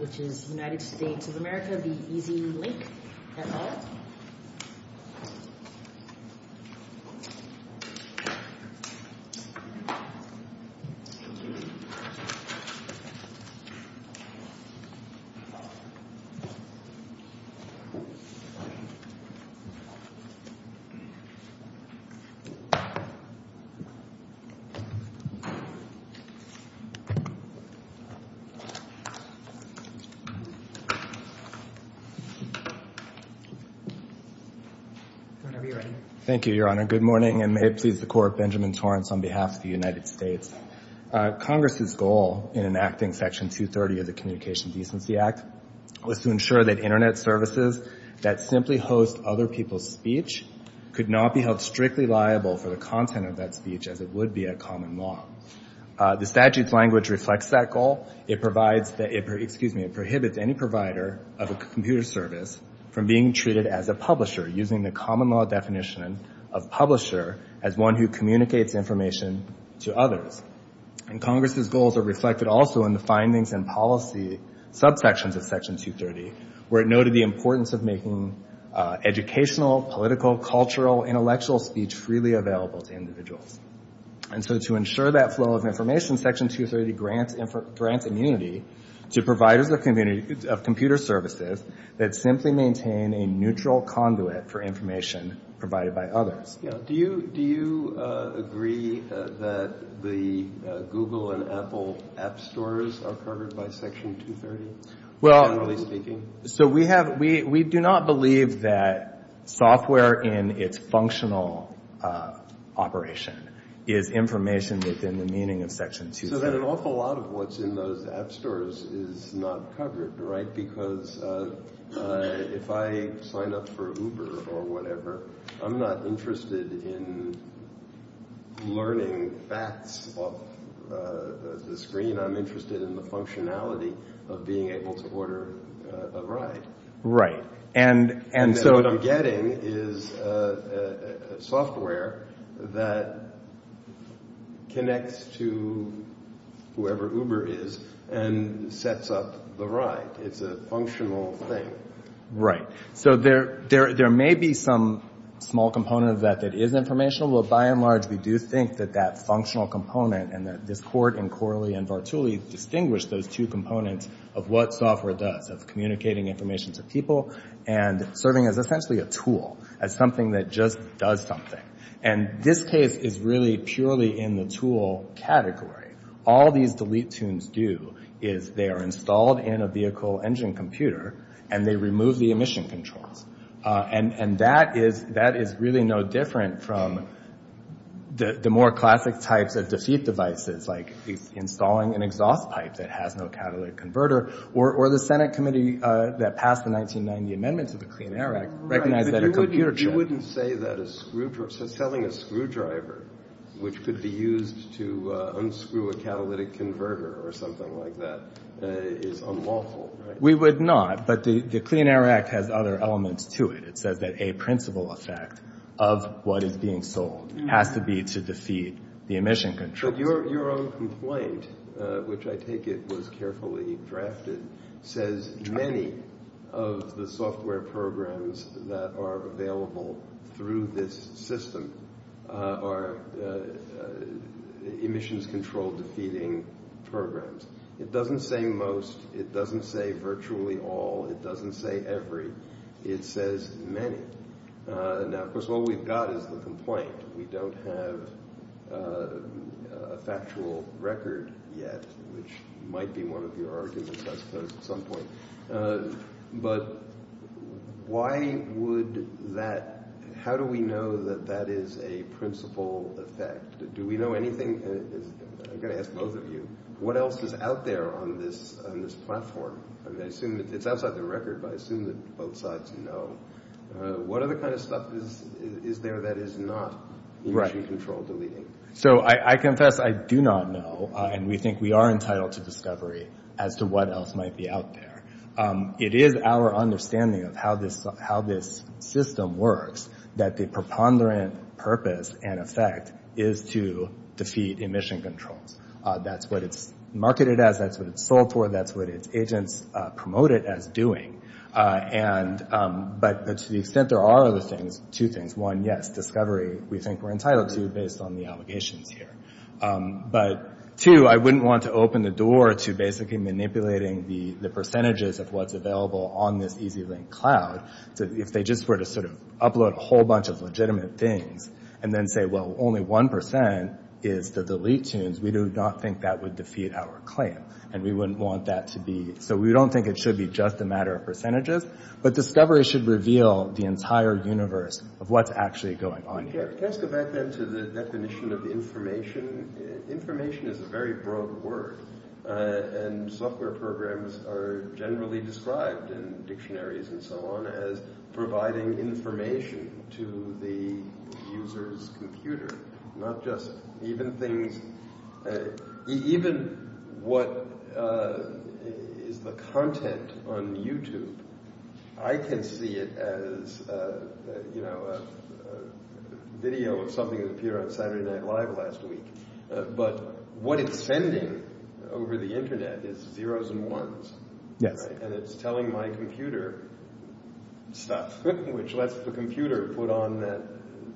which is United States of America v. EZ Lynk, et al. Congress's goal in enacting Section 230 of the Communication Decency Act was to ensure that Internet services that simply host other people's speech could not be held strictly liable for the content of that speech as it would be a common law. The statute's language reflects that goal. It prohibits any provider of a computer service from being treated as a publisher using the common law definition of publisher as one who communicates information to others. And Congress's goals are reflected also in the findings and policy subsections of Section 230 where it noted the importance of making educational, political, cultural, intellectual speech freely available to individuals. And so to ensure that flow of information, Section 230 grants immunity to providers of computer services that simply maintain a neutral conduit for information provided by others. Yeah. Do you agree that the Google and Apple app stores are covered by Section 230, generally speaking? Well, so we have, we do not believe that software in its functional operation is information within the meaning of Section 230. So then an awful lot of what's in those app stores is not covered, right? Because if I sign up for Uber or whatever, I'm not interested in learning facts off the screen. I'm interested in the functionality of being able to order a ride. Right. And so what I'm getting is software that connects to whoever Uber is and sets up the ride. It's a functional thing. Right. So there may be some small component of that that is informational, but by and large we do think that that functional component and that Discord and Corley and Vartuli distinguish those two components of what software does, of communicating information to people and serving as essentially a tool, as something that just does something. And this case is really purely in the tool category. All these delete tunes do is they are installed in a vehicle engine computer and they remove the emission controls. And that is really no different from the more classic types of defeat devices, like installing an exhaust pipe that has no catalytic converter, or the Senate committee that passed the 1990 amendments of the Clean Air Act recognized that a computer shouldn't. You wouldn't say that selling a screwdriver, which could be used to unscrew a catalytic converter or something like that, is unlawful, right? We would not, but the Clean Air Act has other elements to it. It says that a principal effect of what is being sold has to be to defeat the emission control. But your own complaint, which I take it was carefully drafted, says many of the software programs that are available through this system are emissions control defeating programs. It doesn't say most. It doesn't say virtually all. It doesn't say every. It says many. Now of course, what we've got is the complaint. We don't have a factual record yet, which might be one of your arguments, I suppose, at some point. But how do we know that that is a principal effect? Do we know anything? I've got to ask both of you. What else is out there on this platform? It's outside the record, but I assume that both sides know. What other kind of stuff is there that is not emission control deleting? So I confess I do not know, and we think we are entitled to discovery as to what else might be out there. It is our understanding of how this system works that the preponderant purpose and effect is to defeat emission controls. That's what it's marketed as. That's what it's sold for. That's what its agents promote it as doing. But to the extent there are other things, two things. One, yes, discovery we think we're entitled to based on the allegations here. But two, I wouldn't want to open the door to basically manipulating the percentages of what's available on this EZ-Link cloud. If they just were to sort of upload a whole bunch of legitimate things and then say, well, only 1% is the delete tunes, we do not think that would defeat our claim. And we wouldn't want that to be, so we don't think it should be just a matter of percentages. But discovery should reveal the entire universe of what's actually going on here. Can I ask a back then to the definition of information? Information is a very broad word. And software programs are generally described in dictionaries and so on as providing information to the user's computer. Not just, even things, even what is the content on YouTube, I can see it as a video of something that appeared on Saturday Night Live last week. But what it's sending over the internet is zeros and ones. And it's telling my computer stuff, which lets the computer put on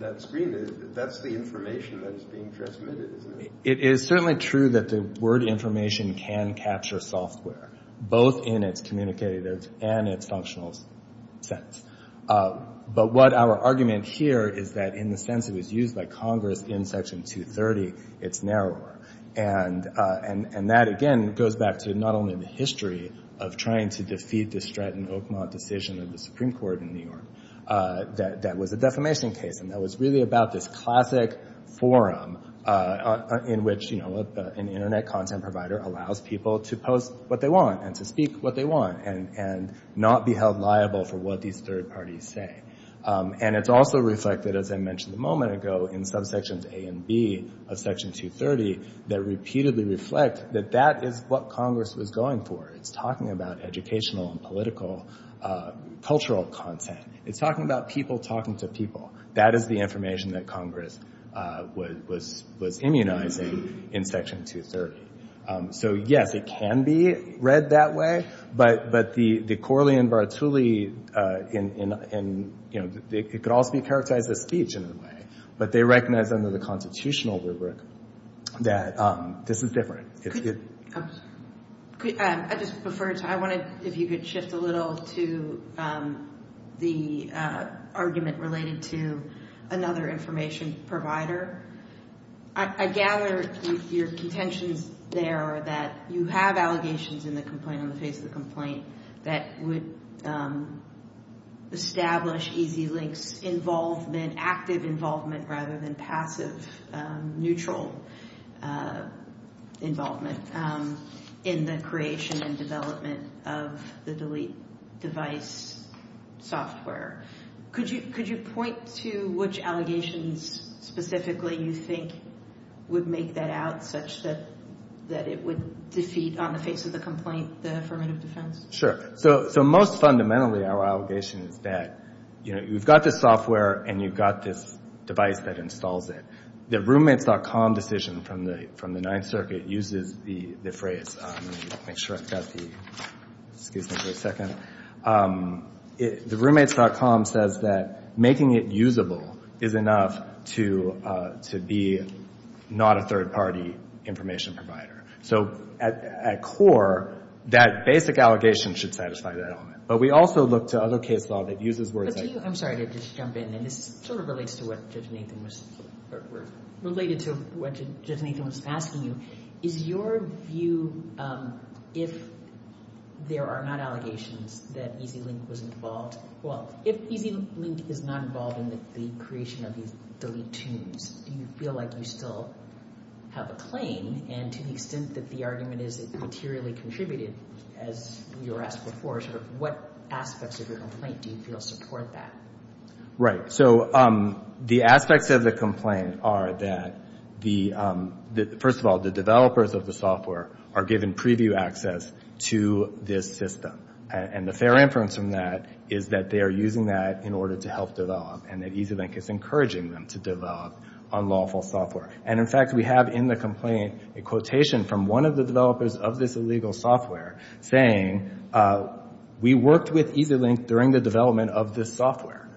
that screen. That's the information that is being transmitted. It is certainly true that the word information can capture software, both in its communicative and its functional sense. But what our argument here is that in the sense it was used by Congress in Section 230, it's narrower. And that, again, goes back to not only the history of trying to defeat the Stratton Oakmont decision of the Supreme Court in New York that was a defamation case and that was really about this classic forum in which an internet content provider allows people to post what they want and to speak what they want and not be held liable for what these third parties say. And it's also reflected, as I mentioned a moment ago, in subsections A and B of Section 230 that repeatedly reflect that that is what Congress was going for. It's talking about educational and political, cultural content. It's talking about people talking to people. That is the information that Congress was immunizing in Section 230. So, yes, it can be read that way. But the Corley and Bartuli, it could also be characterized as speech in a way. But they recognize under the constitutional rubric that this is different. I just prefer to, I wanted, if you could shift a little to the argument related to another information provider. I gather your contentions there are that you have allegations in the complaint, on the face of the complaint, that would establish EZ-Link's involvement, active involvement rather than passive, neutral involvement, in the creation and development of the delete device software. Could you point to which allegations specifically you think would make that out such that it would defeat, on the face of the complaint, the affirmative defense? Sure. So most fundamentally our allegation is that you've got this software and you've got this device that installs it. The roommates.com decision from the Ninth Circuit uses the phrase, let me make sure I've got the, excuse me for a second. The roommates.com says that making it usable is enough to be not a third party information provider. So at core, that basic allegation should satisfy that element. But we also look to other case law that uses words like that. I'm sorry to just jump in and this sort of relates to what Judge Nathan was asking you. Is your view, if there are not allegations that EZ-Link was involved, well, if EZ-Link is not involved in the creation of these delete tunes, do you feel like you still have a claim? And to the extent that the argument is it materially contributed, as you were asked before, sort of what aspects of your complaint do you feel support that? Right. So the aspects of the complaint are that, first of all, the developers of the software are given preview access to this system. And the fair inference from that is that they are using that in order to help develop and that EZ-Link is encouraging them to develop unlawful software. And in fact, we have in the complaint a quotation from one of the developers of this illegal software saying, we worked with EZ-Link during the development of this software.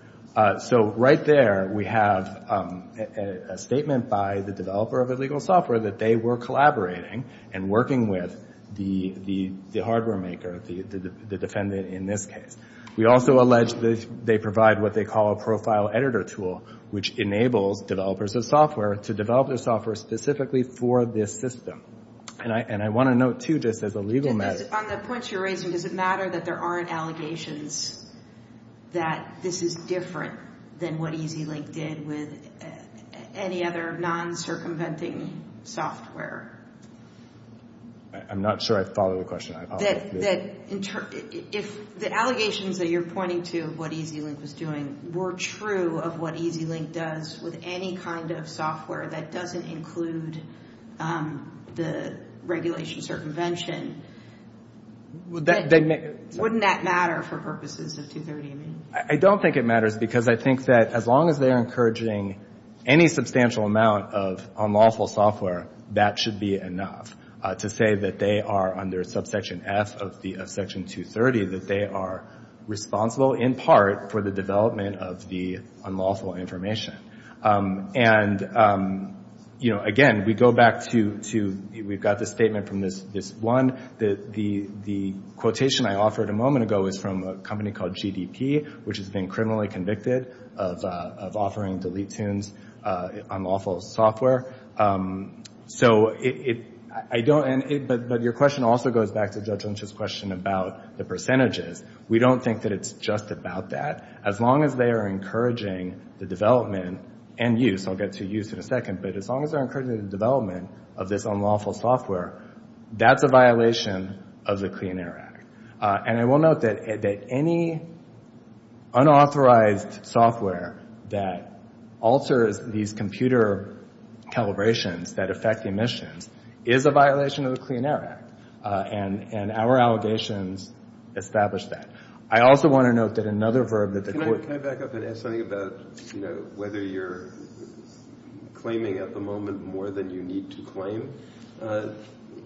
So right there we have a statement by the developer of illegal software that they were collaborating and working with the hardware maker, the defendant in this case. We also allege that they provide what they call a profile editor tool, which enables developers of software to develop their software specifically for this system. And I want to note too, just as a legal matter. On the points you're raising, does it matter that there aren't allegations that this is different than what EZ-Link did with any other non-circumventing software? I'm not sure I follow the question. The allegations that you're pointing to of what EZ-Link was doing were true of what EZ-Link does with any kind of software that doesn't include the regulation circumvention. Wouldn't that matter for purposes of 230? I don't think it matters, because I think that as long as they're encouraging any substantial amount of unlawful software, that should be enough to say that they are under subsection F of section 230, that they are responsible in part for the development of the unlawful information. And again, we go back to, we've got the statement from this one. The quotation I offered a moment ago is from a company called GDP, which has been criminally convicted of offering delete tunes, unlawful software. But your question also goes back to Judge Lynch's question about the percentages. We don't think that it's just about that. As long as they are encouraging the development and use, I'll get to use in a second, but as long as they're encouraging the development of this unlawful software, that's a violation of the Clean Air Act. And I will note that any unauthorized software that alters these computer calibrations that affect the emissions is a violation of the Clean Air Act, and our allegations establish that. I also want to note that another verb that the court... Can I back up and ask something about whether you're claiming at the moment more than you need to claim?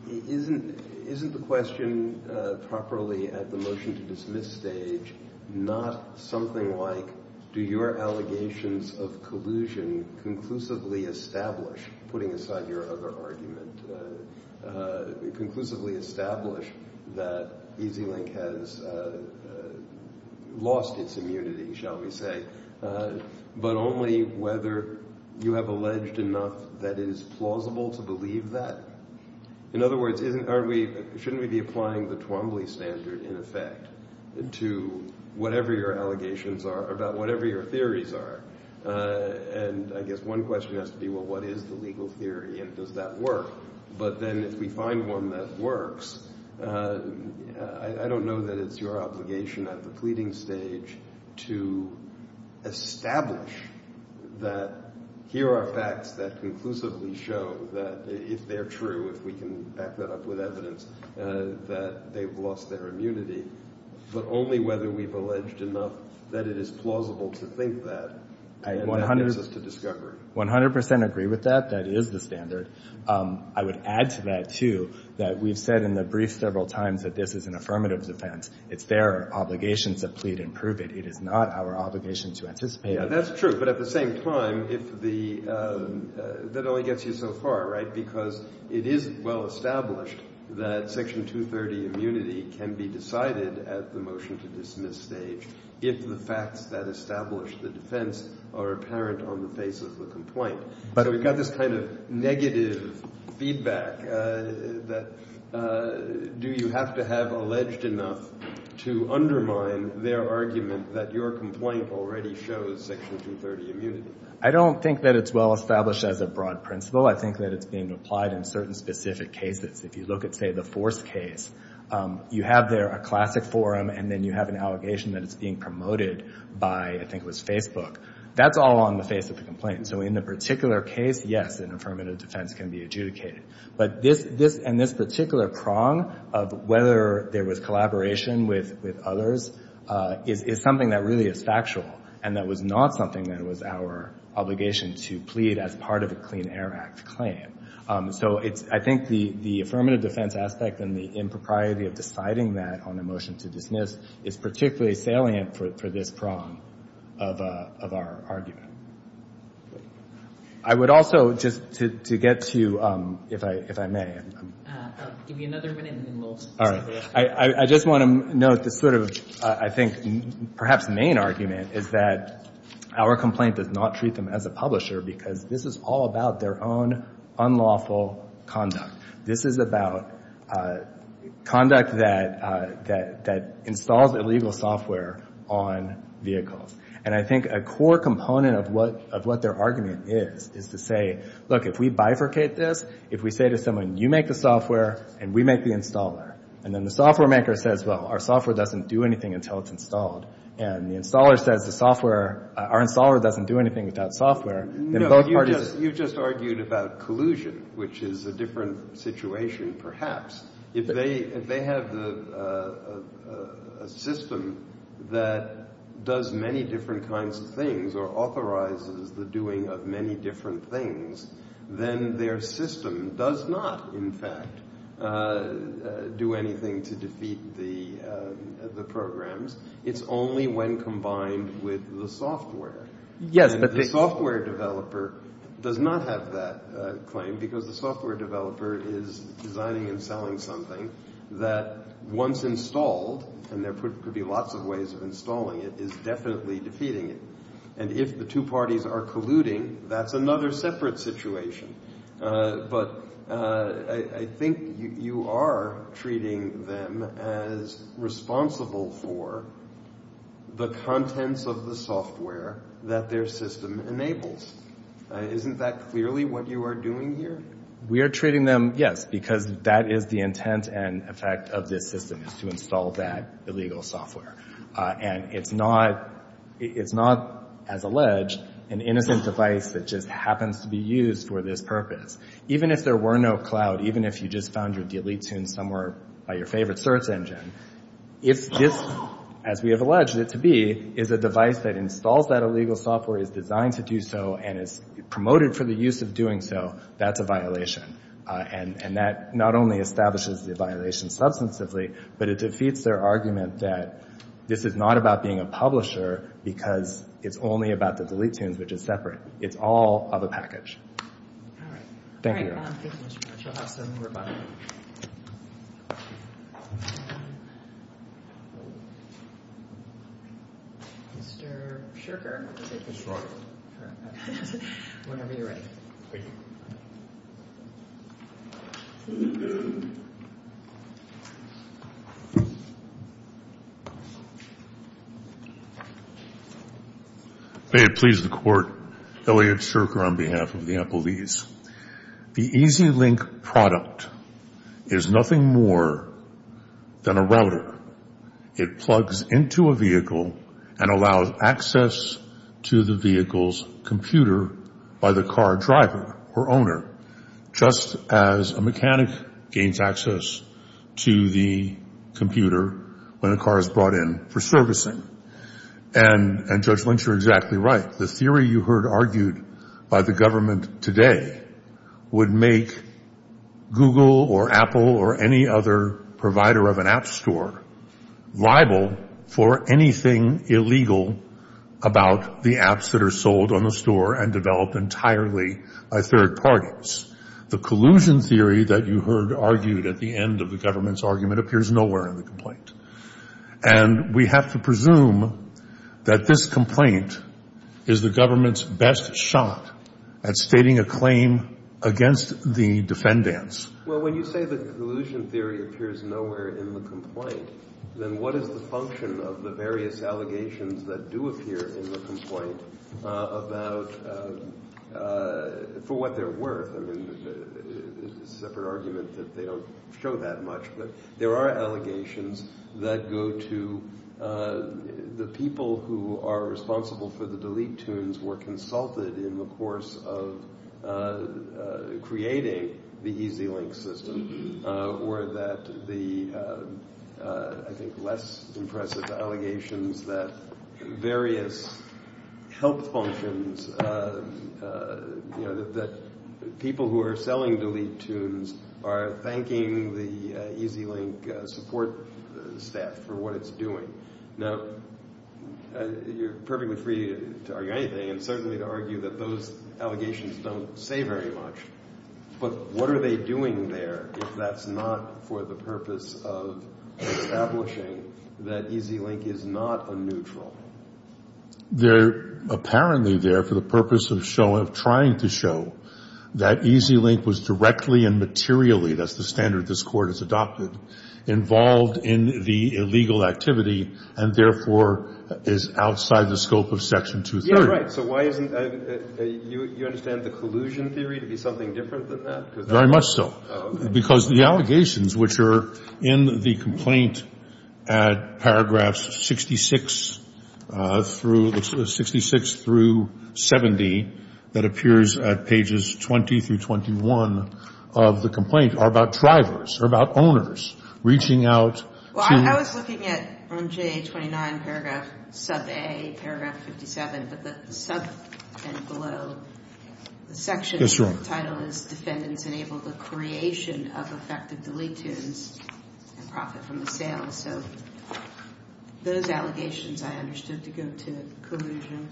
Isn't the question properly at the motion-to-dismiss stage not something like, do your allegations of collusion conclusively establish, putting aside your other argument, conclusively establish that EZ-Link has lost its immunity, shall we say, but only whether you have alleged enough that it is plausible to believe that? In other words, shouldn't we be applying the Twombly standard, in effect, to whatever your allegations are about whatever your theories are? And I guess one question has to be, well, what is the legal theory, and does that work? But then if we find one that works, I don't know that it's your obligation at the pleading stage to establish that here are facts that conclusively show that if they're true, if we can back that up with evidence, that they've lost their immunity, but only whether we've alleged enough that it is plausible to think that. And that brings us to discovery. I 100 percent agree with that. That is the standard. I would add to that, too, that we've said in the brief several times that this is an affirmative defense. It's their obligation to plead and prove it. It is not our obligation to anticipate it. Yeah, that's true. But at the same time, if the — that only gets you so far, right? Because it is well-established that Section 230 immunity can be decided at the motion-to-dismiss stage if the facts that establish the defense are apparent on the face of the complaint. But we've got this kind of negative feedback that — do you have to have alleged enough to undermine their argument that your complaint already shows Section 230 immunity? I don't think that it's well-established as a broad principle. I think that it's being applied in certain specific cases. If you look at, say, the Force case, you have there a classic forum and then you have an allegation that it's being promoted by, I think it was Facebook. That's all on the face of the complaint. So in the particular case, yes, an affirmative defense can be adjudicated. But this — and this particular prong of whether there was collaboration with others is something that really is factual and that was not something that was our obligation to plead as part of a Clean Air Act claim. So it's — I think the affirmative defense aspect and the impropriety of deciding that on a motion-to-dismiss is particularly salient for this prong of our argument. I would also, just to get to — if I may — I'll give you another minute and then we'll — I just want to note this sort of, I think, perhaps main argument is that our complaint does not treat them as a publisher because this is all about their own unlawful conduct. This is about conduct that installs illegal software on vehicles. And I think a core component of what their argument is, is to say, look, if we bifurcate this, if we say to someone, you make the software and we make the installer, and then the software maker says, well, our software doesn't do anything until it's installed, and the installer says the software — our installer doesn't do anything without software, then both parties — No, you just argued about collusion, which is a different situation, perhaps. If they have a system that does many different kinds of things or authorizes the doing of many different things, then their system does not, in fact, do anything to defeat the programs. It's only when combined with the software. The software developer does not have that claim because the software developer is designing and selling something that once installed, and there could be lots of ways of installing it, is definitely defeating it. And if the two parties are colluding, that's another separate situation. But I think you are treating them as responsible for the contents of the software that their system enables. Isn't that clearly what you are doing here? We are treating them, yes, because that is the intent and effect of this system, is to install that illegal software. And it's not, as alleged, an innocent device that just happens to be used for this purpose. Even if there were no cloud, even if you just found your delete tune somewhere by your favorite search engine, if this, as we have alleged it to be, is a device that installs that illegal software, is designed to do so, and is promoted for the use of doing so, that's a violation. And that not only establishes the violation substantively, but it defeats their argument that this is not about being a publisher because it's only about the delete tunes, which is separate. It's all of a package. All right. Thank you. Thank you very much. We'll have some rebuttal. Mr. Shurker, whenever you're ready. Thank you. May it please the Court, Elliot Shurker on behalf of the employees. The EZ-Link product is nothing more than a router. It plugs into a vehicle and allows access to the vehicle's computer by the car driver or owner, just as a mechanic gains access to the computer when a car is brought in for servicing. And, Judge Lynch, you're exactly right. The theory you heard argued by the government today would make Google or Apple or any other provider of an app store liable for anything illegal about the apps that are sold on the store and develop entirely by third parties. The collusion theory that you heard argued at the end of the government's argument appears nowhere in the complaint. And we have to presume that this complaint is the government's best shot at stating a claim against the defendants. Well, when you say the collusion theory appears nowhere in the complaint, then what is the function of the various allegations that do appear in the complaint for what they're worth? I mean, it's a separate argument that they don't show that much, but there are allegations that go to the people who are responsible for the delete tunes were consulted in the course of creating the EZ-Link system or that the, I think, less impressive allegations that various health functions, that people who are selling delete tunes are thanking the EZ-Link support staff for what it's doing. Now, you're perfectly free to argue anything and certainly to argue that those allegations don't say very much. But what are they doing there if that's not for the purpose of establishing that EZ-Link is not a neutral? They're apparently there for the purpose of trying to show that EZ-Link was directly and materially, that's the standard this Court has adopted, involved in the illegal activity and therefore is outside the scope of Section 230. So why isn't, you understand the collusion theory to be something different than that? Very much so. Because the allegations which are in the complaint at paragraphs 66 through, 66 through 70 that appears at pages 20 through 21 of the complaint are about drivers, are about owners reaching out to. I was looking at on J29 paragraph sub A, paragraph 57, but the sub and below the section of the title is defendants enable the creation of effective delete tunes and profit from the sale. So those allegations I understood to go to collusion.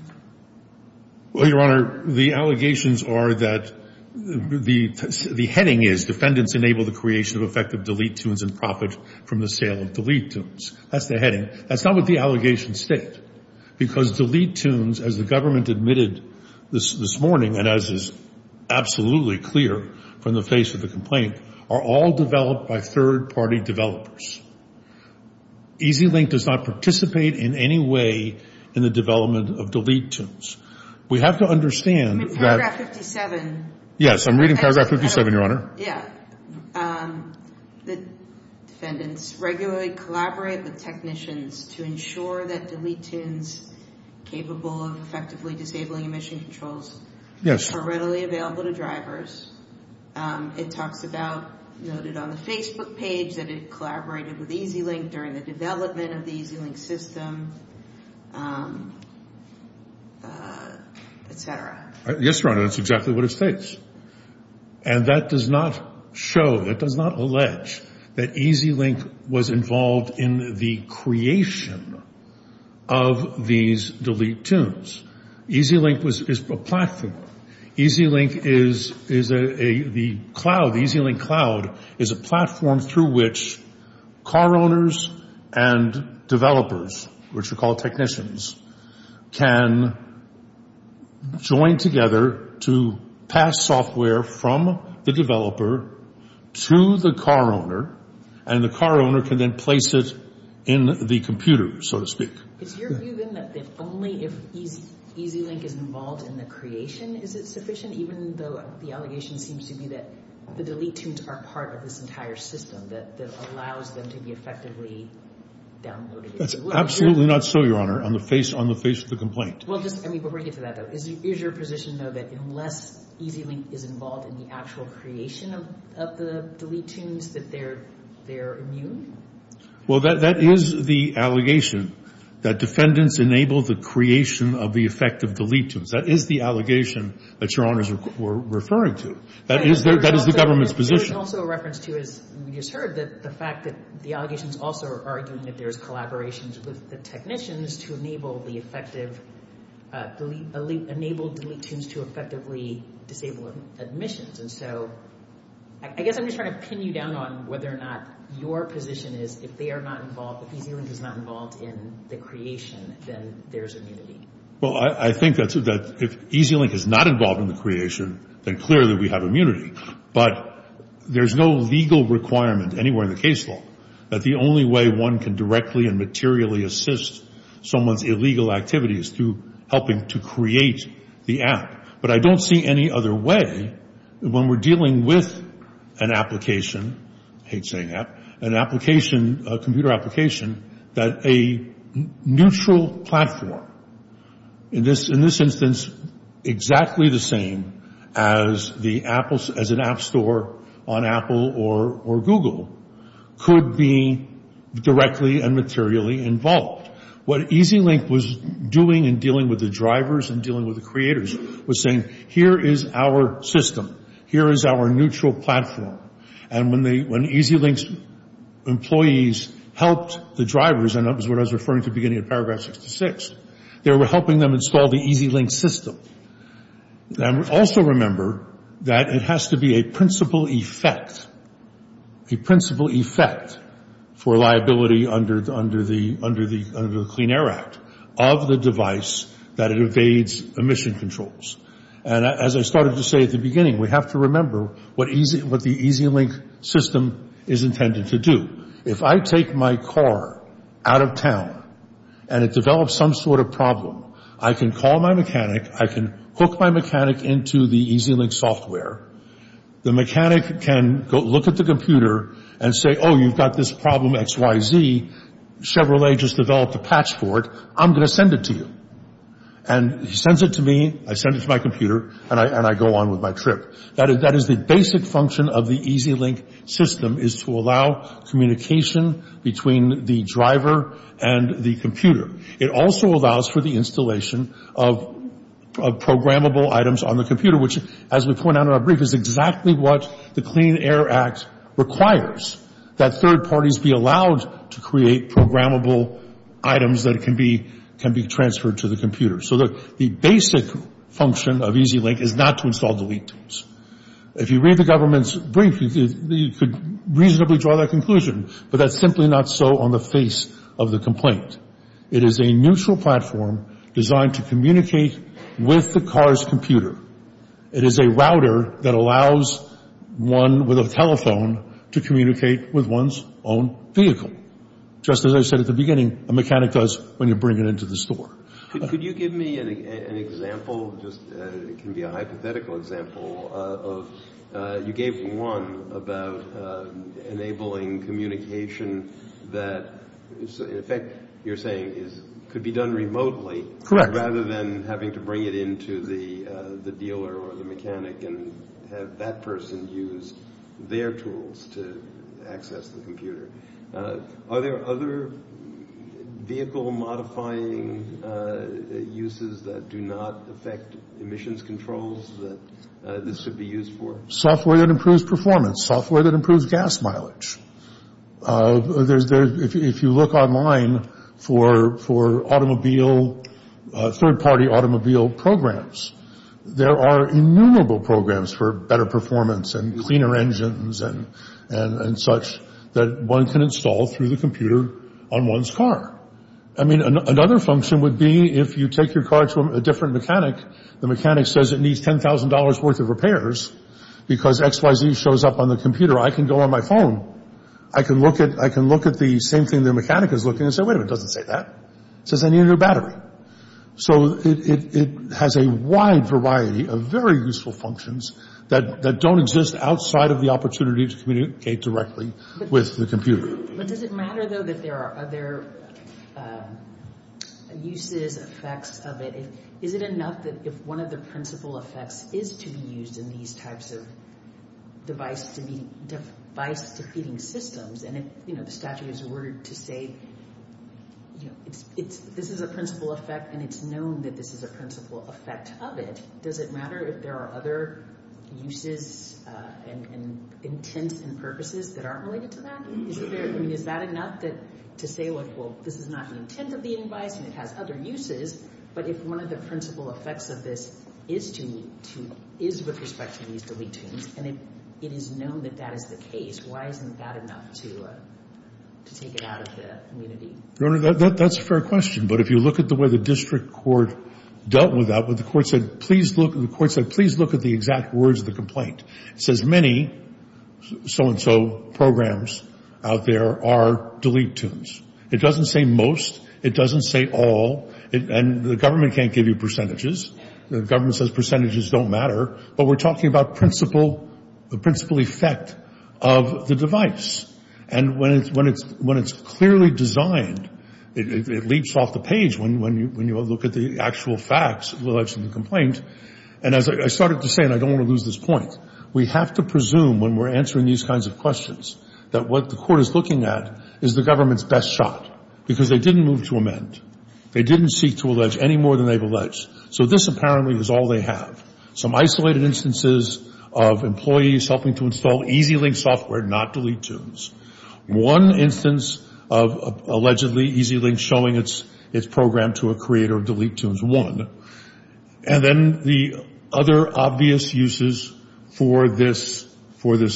Well, Your Honor, the allegations are that the heading is defendants enable the creation of effective delete tunes and profit from the sale of delete tunes. That's the heading. That's not what the allegations state. Because delete tunes, as the government admitted this morning and as is absolutely clear from the face of the complaint, are all developed by third-party developers. EZ-Link does not participate in any way in the development of delete tunes. We have to understand that. Paragraph 57. Yes, I'm reading paragraph 57, Your Honor. Yeah. The defendants regularly collaborate with technicians to ensure that delete tunes capable of effectively disabling emission controls are readily available to drivers. It talks about noted on the Facebook page that it collaborated with EZ-Link during the development of the EZ-Link system, et cetera. Yes, Your Honor, that's exactly what it states. And that does not show, that does not allege that EZ-Link was involved in the creation of these delete tunes. EZ-Link is a platform. EZ-Link is a – the cloud, the EZ-Link cloud is a platform through which car owners and developers, which we call technicians, can join together to pass software from the developer to the car owner, and the car owner can then place it in the computer, so to speak. Is your view, then, that if only if EZ-Link is involved in the creation, is it sufficient, even though the allegation seems to be that the delete tunes are part of this entire system that allows them to be effectively downloaded? That's absolutely not so, Your Honor, on the face of the complaint. Well, just – I mean, before I get to that, though, is your position, though, that unless EZ-Link is involved in the actual creation of the delete tunes, that they're immune? Well, that is the allegation, that defendants enable the creation of the effective delete tunes. That is the allegation that Your Honors were referring to. That is the government's position. There's also a reference to, as we just heard, the fact that the allegations also are arguing that there's collaborations with the technicians to enable the effective – enable delete tunes to effectively disable admissions. And so I guess I'm just trying to pin you down on whether or not your position is if they are not involved, if EZ-Link is not involved in the creation, then there's immunity. Well, I think that if EZ-Link is not involved in the creation, then clearly we have immunity. But there's no legal requirement anywhere in the case law that the only way one can directly and materially assist someone's illegal activity is through helping to create the app. But I don't see any other way when we're dealing with an application – I hate saying app – an application, a computer application, that a neutral platform, in this instance, exactly the same as an app store on Apple or Google, could be directly and materially involved. What EZ-Link was doing in dealing with the drivers and dealing with the creators was saying, here is our system, here is our neutral platform. And when EZ-Link's employees helped the drivers, and that was what I was referring to beginning in paragraph 66, they were helping them install the EZ-Link system. And also remember that it has to be a principal effect, a principal effect for liability under the Clean Air Act of the device that it evades emission controls. And as I started to say at the beginning, we have to remember what the EZ-Link system is intended to do. If I take my car out of town and it develops some sort of problem, I can call my mechanic, I can hook my mechanic into the EZ-Link software. The mechanic can look at the computer and say, oh, you've got this problem XYZ, Chevrolet just developed a patch for it, I'm going to send it to you. And he sends it to me, I send it to my computer, and I go on with my trip. That is the basic function of the EZ-Link system is to allow communication between the driver and the computer. It also allows for the installation of programmable items on the computer, which, as we point out in our brief, is exactly what the Clean Air Act requires, that third parties be allowed to create programmable items that can be transferred to the computer. So the basic function of EZ-Link is not to install delete tools. If you read the government's brief, you could reasonably draw that conclusion, but that's simply not so on the face of the complaint. It is a neutral platform designed to communicate with the car's computer. It is a router that allows one with a telephone to communicate with one's own vehicle. Just as I said at the beginning, a mechanic does when you bring it into the store. Could you give me an example? It can be a hypothetical example. You gave one about enabling communication that, in effect, you're saying could be done remotely. Correct. Rather than having to bring it into the dealer or the mechanic and have that person use their tools to access the computer. Are there other vehicle-modifying uses that do not affect emissions controls that this could be used for? Software that improves performance, software that improves gas mileage. If you look online for automobile, third-party automobile programs, there are innumerable programs for better performance and cleaner engines and such that one can install through the computer on one's car. I mean, another function would be if you take your car to a different mechanic, the mechanic says it needs $10,000 worth of repairs because XYZ shows up on the computer. I can go on my phone. I can look at the same thing the mechanic is looking and say, wait a minute, it doesn't say that. It says I need a new battery. So it has a wide variety of very useful functions that don't exist outside of the opportunity to communicate directly with the computer. But does it matter, though, that there are other uses, effects of it? Is it enough that if one of the principal effects is to be used in these types of device-defeating systems, and if the statute is ordered to say this is a principal effect and it's known that this is a principal effect of it, does it matter if there are other uses and intents and purposes that aren't related to that? I mean, is that enough to say, well, this is not the intent of the device and it has other uses, but if one of the principal effects of this is with respect to these delete tunes and it is known that that is the case, why isn't that enough to take it out of the community? Your Honor, that's a fair question. But if you look at the way the district court dealt with that, the court said please look at the exact words of the complaint. It says many so-and-so programs out there are delete tunes. It doesn't say most. It doesn't say all. And the government can't give you percentages. The government says percentages don't matter. But we're talking about principal, the principal effect of the device. And when it's clearly designed, it leaps off the page when you look at the actual facts. So that's the election complaint. And as I started to say, and I don't want to lose this point, we have to presume when we're answering these kinds of questions that what the court is looking at is the government's best shot, because they didn't move to amend. They didn't seek to allege any more than they've alleged. So this apparently is all they have. Some isolated instances of employees helping to install EasyLink software, not delete tunes. One instance of allegedly EasyLink showing its program to a creator of delete tunes. One. And then the other obvious uses for this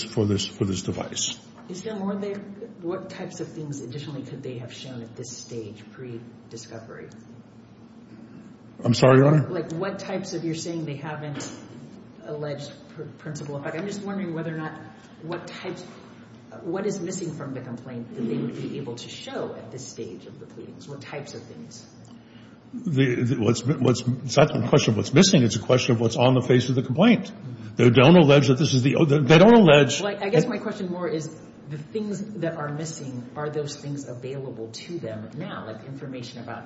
device. Is there more there? What types of things additionally could they have shown at this stage pre-discovery? I'm sorry, Your Honor? Like what types of you're saying they haven't alleged principal effect. I'm just wondering whether or not what types, what is missing from the complaint that they would be able to show at this stage of the pleadings? What types of things? It's not a question of what's missing. It's a question of what's on the face of the complaint. They don't allege that this is the, they don't allege. Well, I guess my question more is the things that are missing, are those things available to them now? Like information about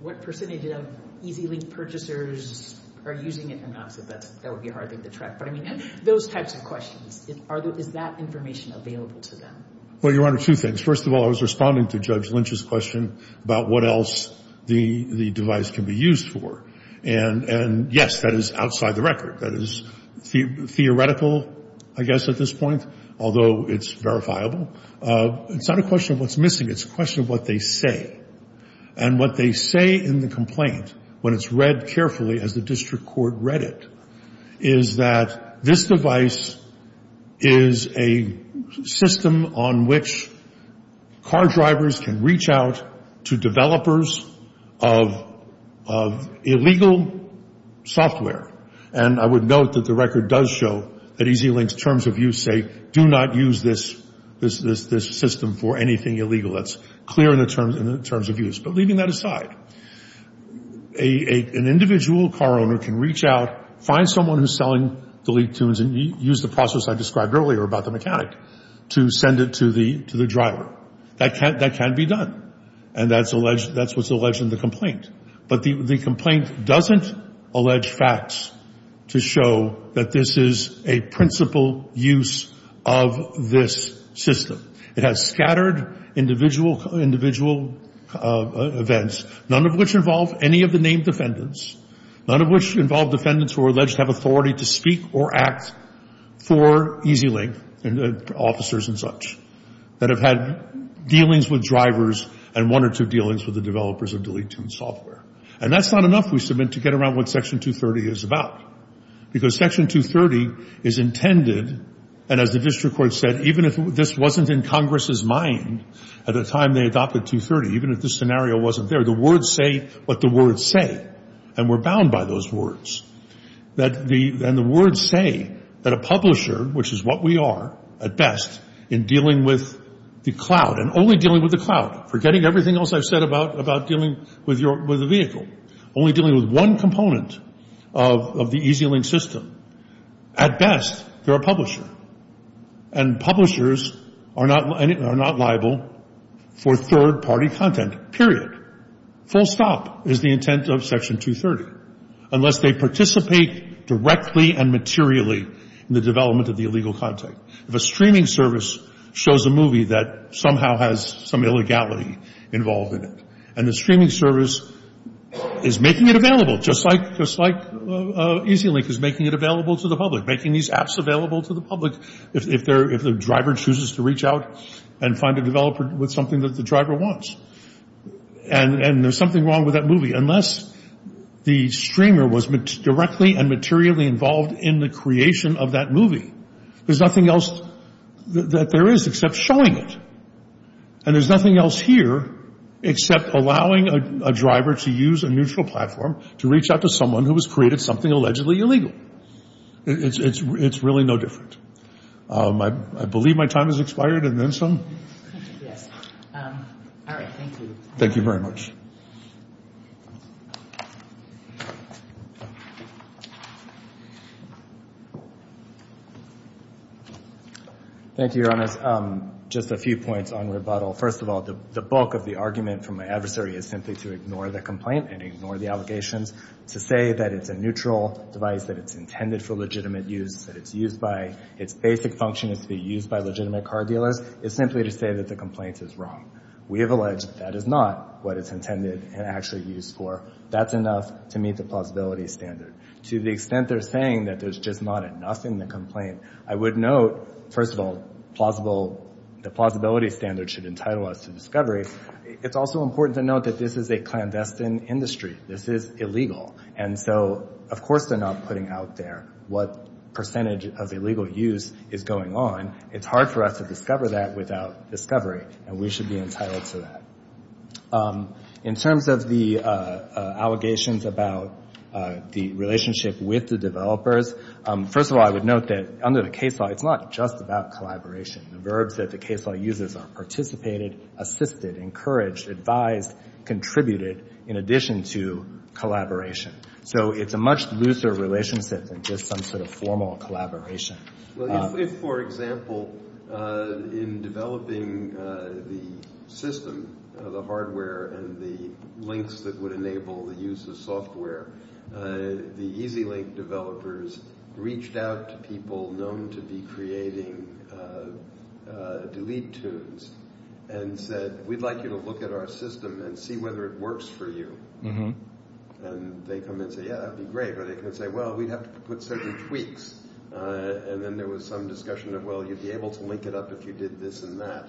what percentage of EasyLink purchasers are using it and not. So that would be hard to track. But, I mean, those types of questions. Is that information available to them? Well, Your Honor, two things. First of all, I was responding to Judge Lynch's question about what else the device can be used for. And, yes, that is outside the record. That is theoretical, I guess, at this point, although it's verifiable. It's not a question of what's missing. It's a question of what they say. And what they say in the complaint, when it's read carefully as the district court read it, is that this device is a system on which car drivers can reach out to developers of illegal software. And I would note that the record does show that EasyLink's terms of use say, do not use this system for anything illegal. That's clear in the terms of use. But leaving that aside, an individual car owner can reach out, find someone who's selling the lead tunes and use the process I described earlier about the mechanic to send it to the driver. That can be done. And that's what's alleged in the complaint. But the complaint doesn't allege facts to show that this is a principal use of this system. It has scattered individual events, none of which involve any of the named defendants, none of which involve defendants who are alleged to have authority to speak or act for EasyLink, officers and such, that have had dealings with drivers and one or two dealings with the developers of the lead tune software. And that's not enough, we submit, to get around what Section 230 is about. Because Section 230 is intended, and as the district court said, even if this wasn't in Congress's mind at the time they adopted 230, even if this scenario wasn't there, the words say what the words say. And we're bound by those words. And the words say that a publisher, which is what we are at best in dealing with the cloud, and only dealing with the cloud, forgetting everything else I've said about dealing with a vehicle, only dealing with one component of the EasyLink system, at best they're a publisher. And publishers are not liable for third-party content, period. Full stop is the intent of Section 230, unless they participate directly and materially in the development of the illegal content. If a streaming service shows a movie that somehow has some illegality involved in it, and the streaming service is making it available, just like EasyLink is making it available to the public, or making these apps available to the public, if the driver chooses to reach out and find a developer with something that the driver wants. And there's something wrong with that movie. Unless the streamer was directly and materially involved in the creation of that movie, there's nothing else that there is except showing it. And there's nothing else here except allowing a driver to use a neutral platform to reach out to someone who has created something allegedly illegal. It's really no different. I believe my time has expired, and then some. Yes. All right, thank you. Thank you very much. Thank you, Your Honor. Just a few points on rebuttal. First of all, the bulk of the argument from my adversary is simply to ignore the complaint and ignore the allegations. To say that it's a neutral device, that it's intended for legitimate use, that its basic function is to be used by legitimate car dealers, is simply to say that the complaint is wrong. We have alleged that that is not what it's intended and actually used for. That's enough to meet the plausibility standard. To the extent they're saying that there's just not enough in the complaint, I would note, first of all, the plausibility standard should entitle us to discovery. It's also important to note that this is a clandestine industry. This is illegal. And so, of course, they're not putting out there what percentage of illegal use is going on. It's hard for us to discover that without discovery, and we should be entitled to that. In terms of the allegations about the relationship with the developers, first of all, I would note that under the case law, it's not just about collaboration. The verbs that the case law uses are participated, assisted, encouraged, advised, contributed, in addition to collaboration. So it's a much looser relationship than just some sort of formal collaboration. Well, if, for example, in developing the system, the hardware, and the links that would enable the use of software, the EasyLink developers reached out to people known to be creating delete tunes and said, we'd like you to look at our system and see whether it works for you. And they come in and say, yeah, that would be great. But they come in and say, well, we'd have to put certain tweaks. And then there was some discussion of, well, you'd be able to link it up if you did this and that.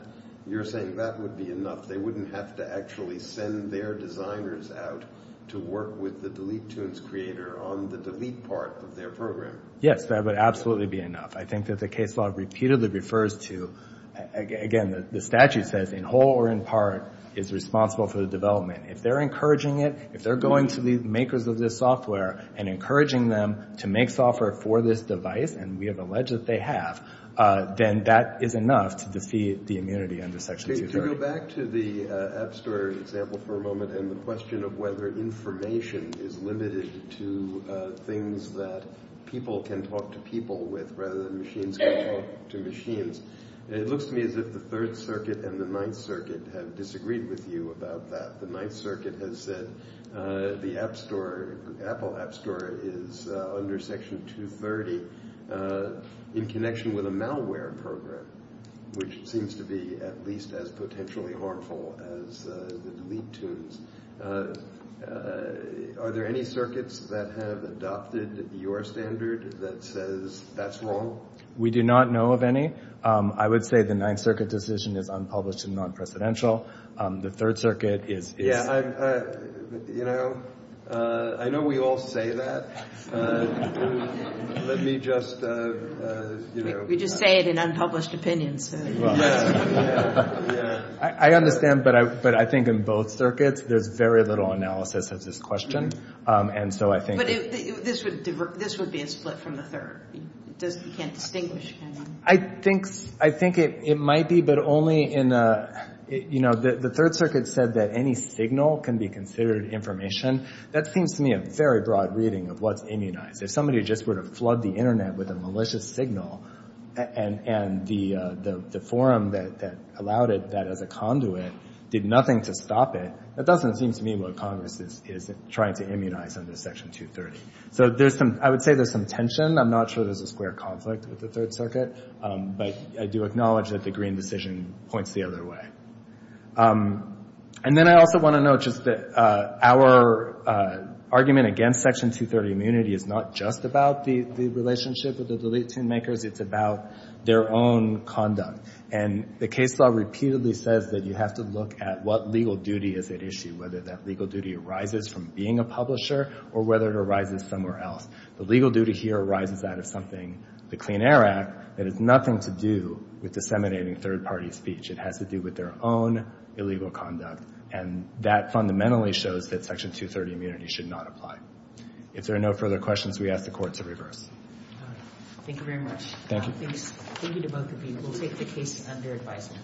You're saying that would be enough. They wouldn't have to actually send their designers out to work with the delete tunes creator on the delete part of their program. Yes, that would absolutely be enough. I think that the case law repeatedly refers to, again, the statute says, in whole or in part is responsible for the development. If they're encouraging it, if they're going to the makers of this software and encouraging them to make software for this device, and we have alleged that they have, then that is enough to defeat the immunity under Section 230. To go back to the App Store example for a moment and the question of whether information is limited to things that people can talk to people with rather than machines can talk to machines, it looks to me as if the Third Circuit and the Ninth Circuit have disagreed with you about that. The Ninth Circuit has said the Apple App Store is under Section 230 in connection with a malware program, which seems to be at least as potentially harmful as the delete tunes. Are there any circuits that have adopted your standard that says that's wrong? We do not know of any. I would say the Ninth Circuit decision is unpublished and non-presidential. The Third Circuit is— I know we all say that. Let me just— We just say it in unpublished opinions. I understand, but I think in both circuits there's very little analysis of this question, and so I think— But this would be a split from the Third. You can't distinguish, can you? I think it might be, but only in— The Third Circuit said that any signal can be considered information. That seems to me a very broad reading of what's immunized. If somebody just were to flood the Internet with a malicious signal, and the forum that allowed it that as a conduit did nothing to stop it, that doesn't seem to me what Congress is trying to immunize under Section 230. So there's some—I would say there's some tension. I'm not sure there's a square conflict with the Third Circuit, but I do acknowledge that the Green decision points the other way. And then I also want to note just that our argument against Section 230 immunity is not just about the relationship with the delete tune makers. It's about their own conduct. And the case law repeatedly says that you have to look at what legal duty is at issue, whether that legal duty arises from being a publisher or whether it arises somewhere else. The legal duty here arises out of something, the Clean Air Act, that has nothing to do with disseminating third-party speech. It has to do with their own illegal conduct. And that fundamentally shows that Section 230 immunity should not apply. If there are no further questions, we ask the Court to reverse. Thank you very much. Thank you. Thank you to both of you. We'll take the case under advisement.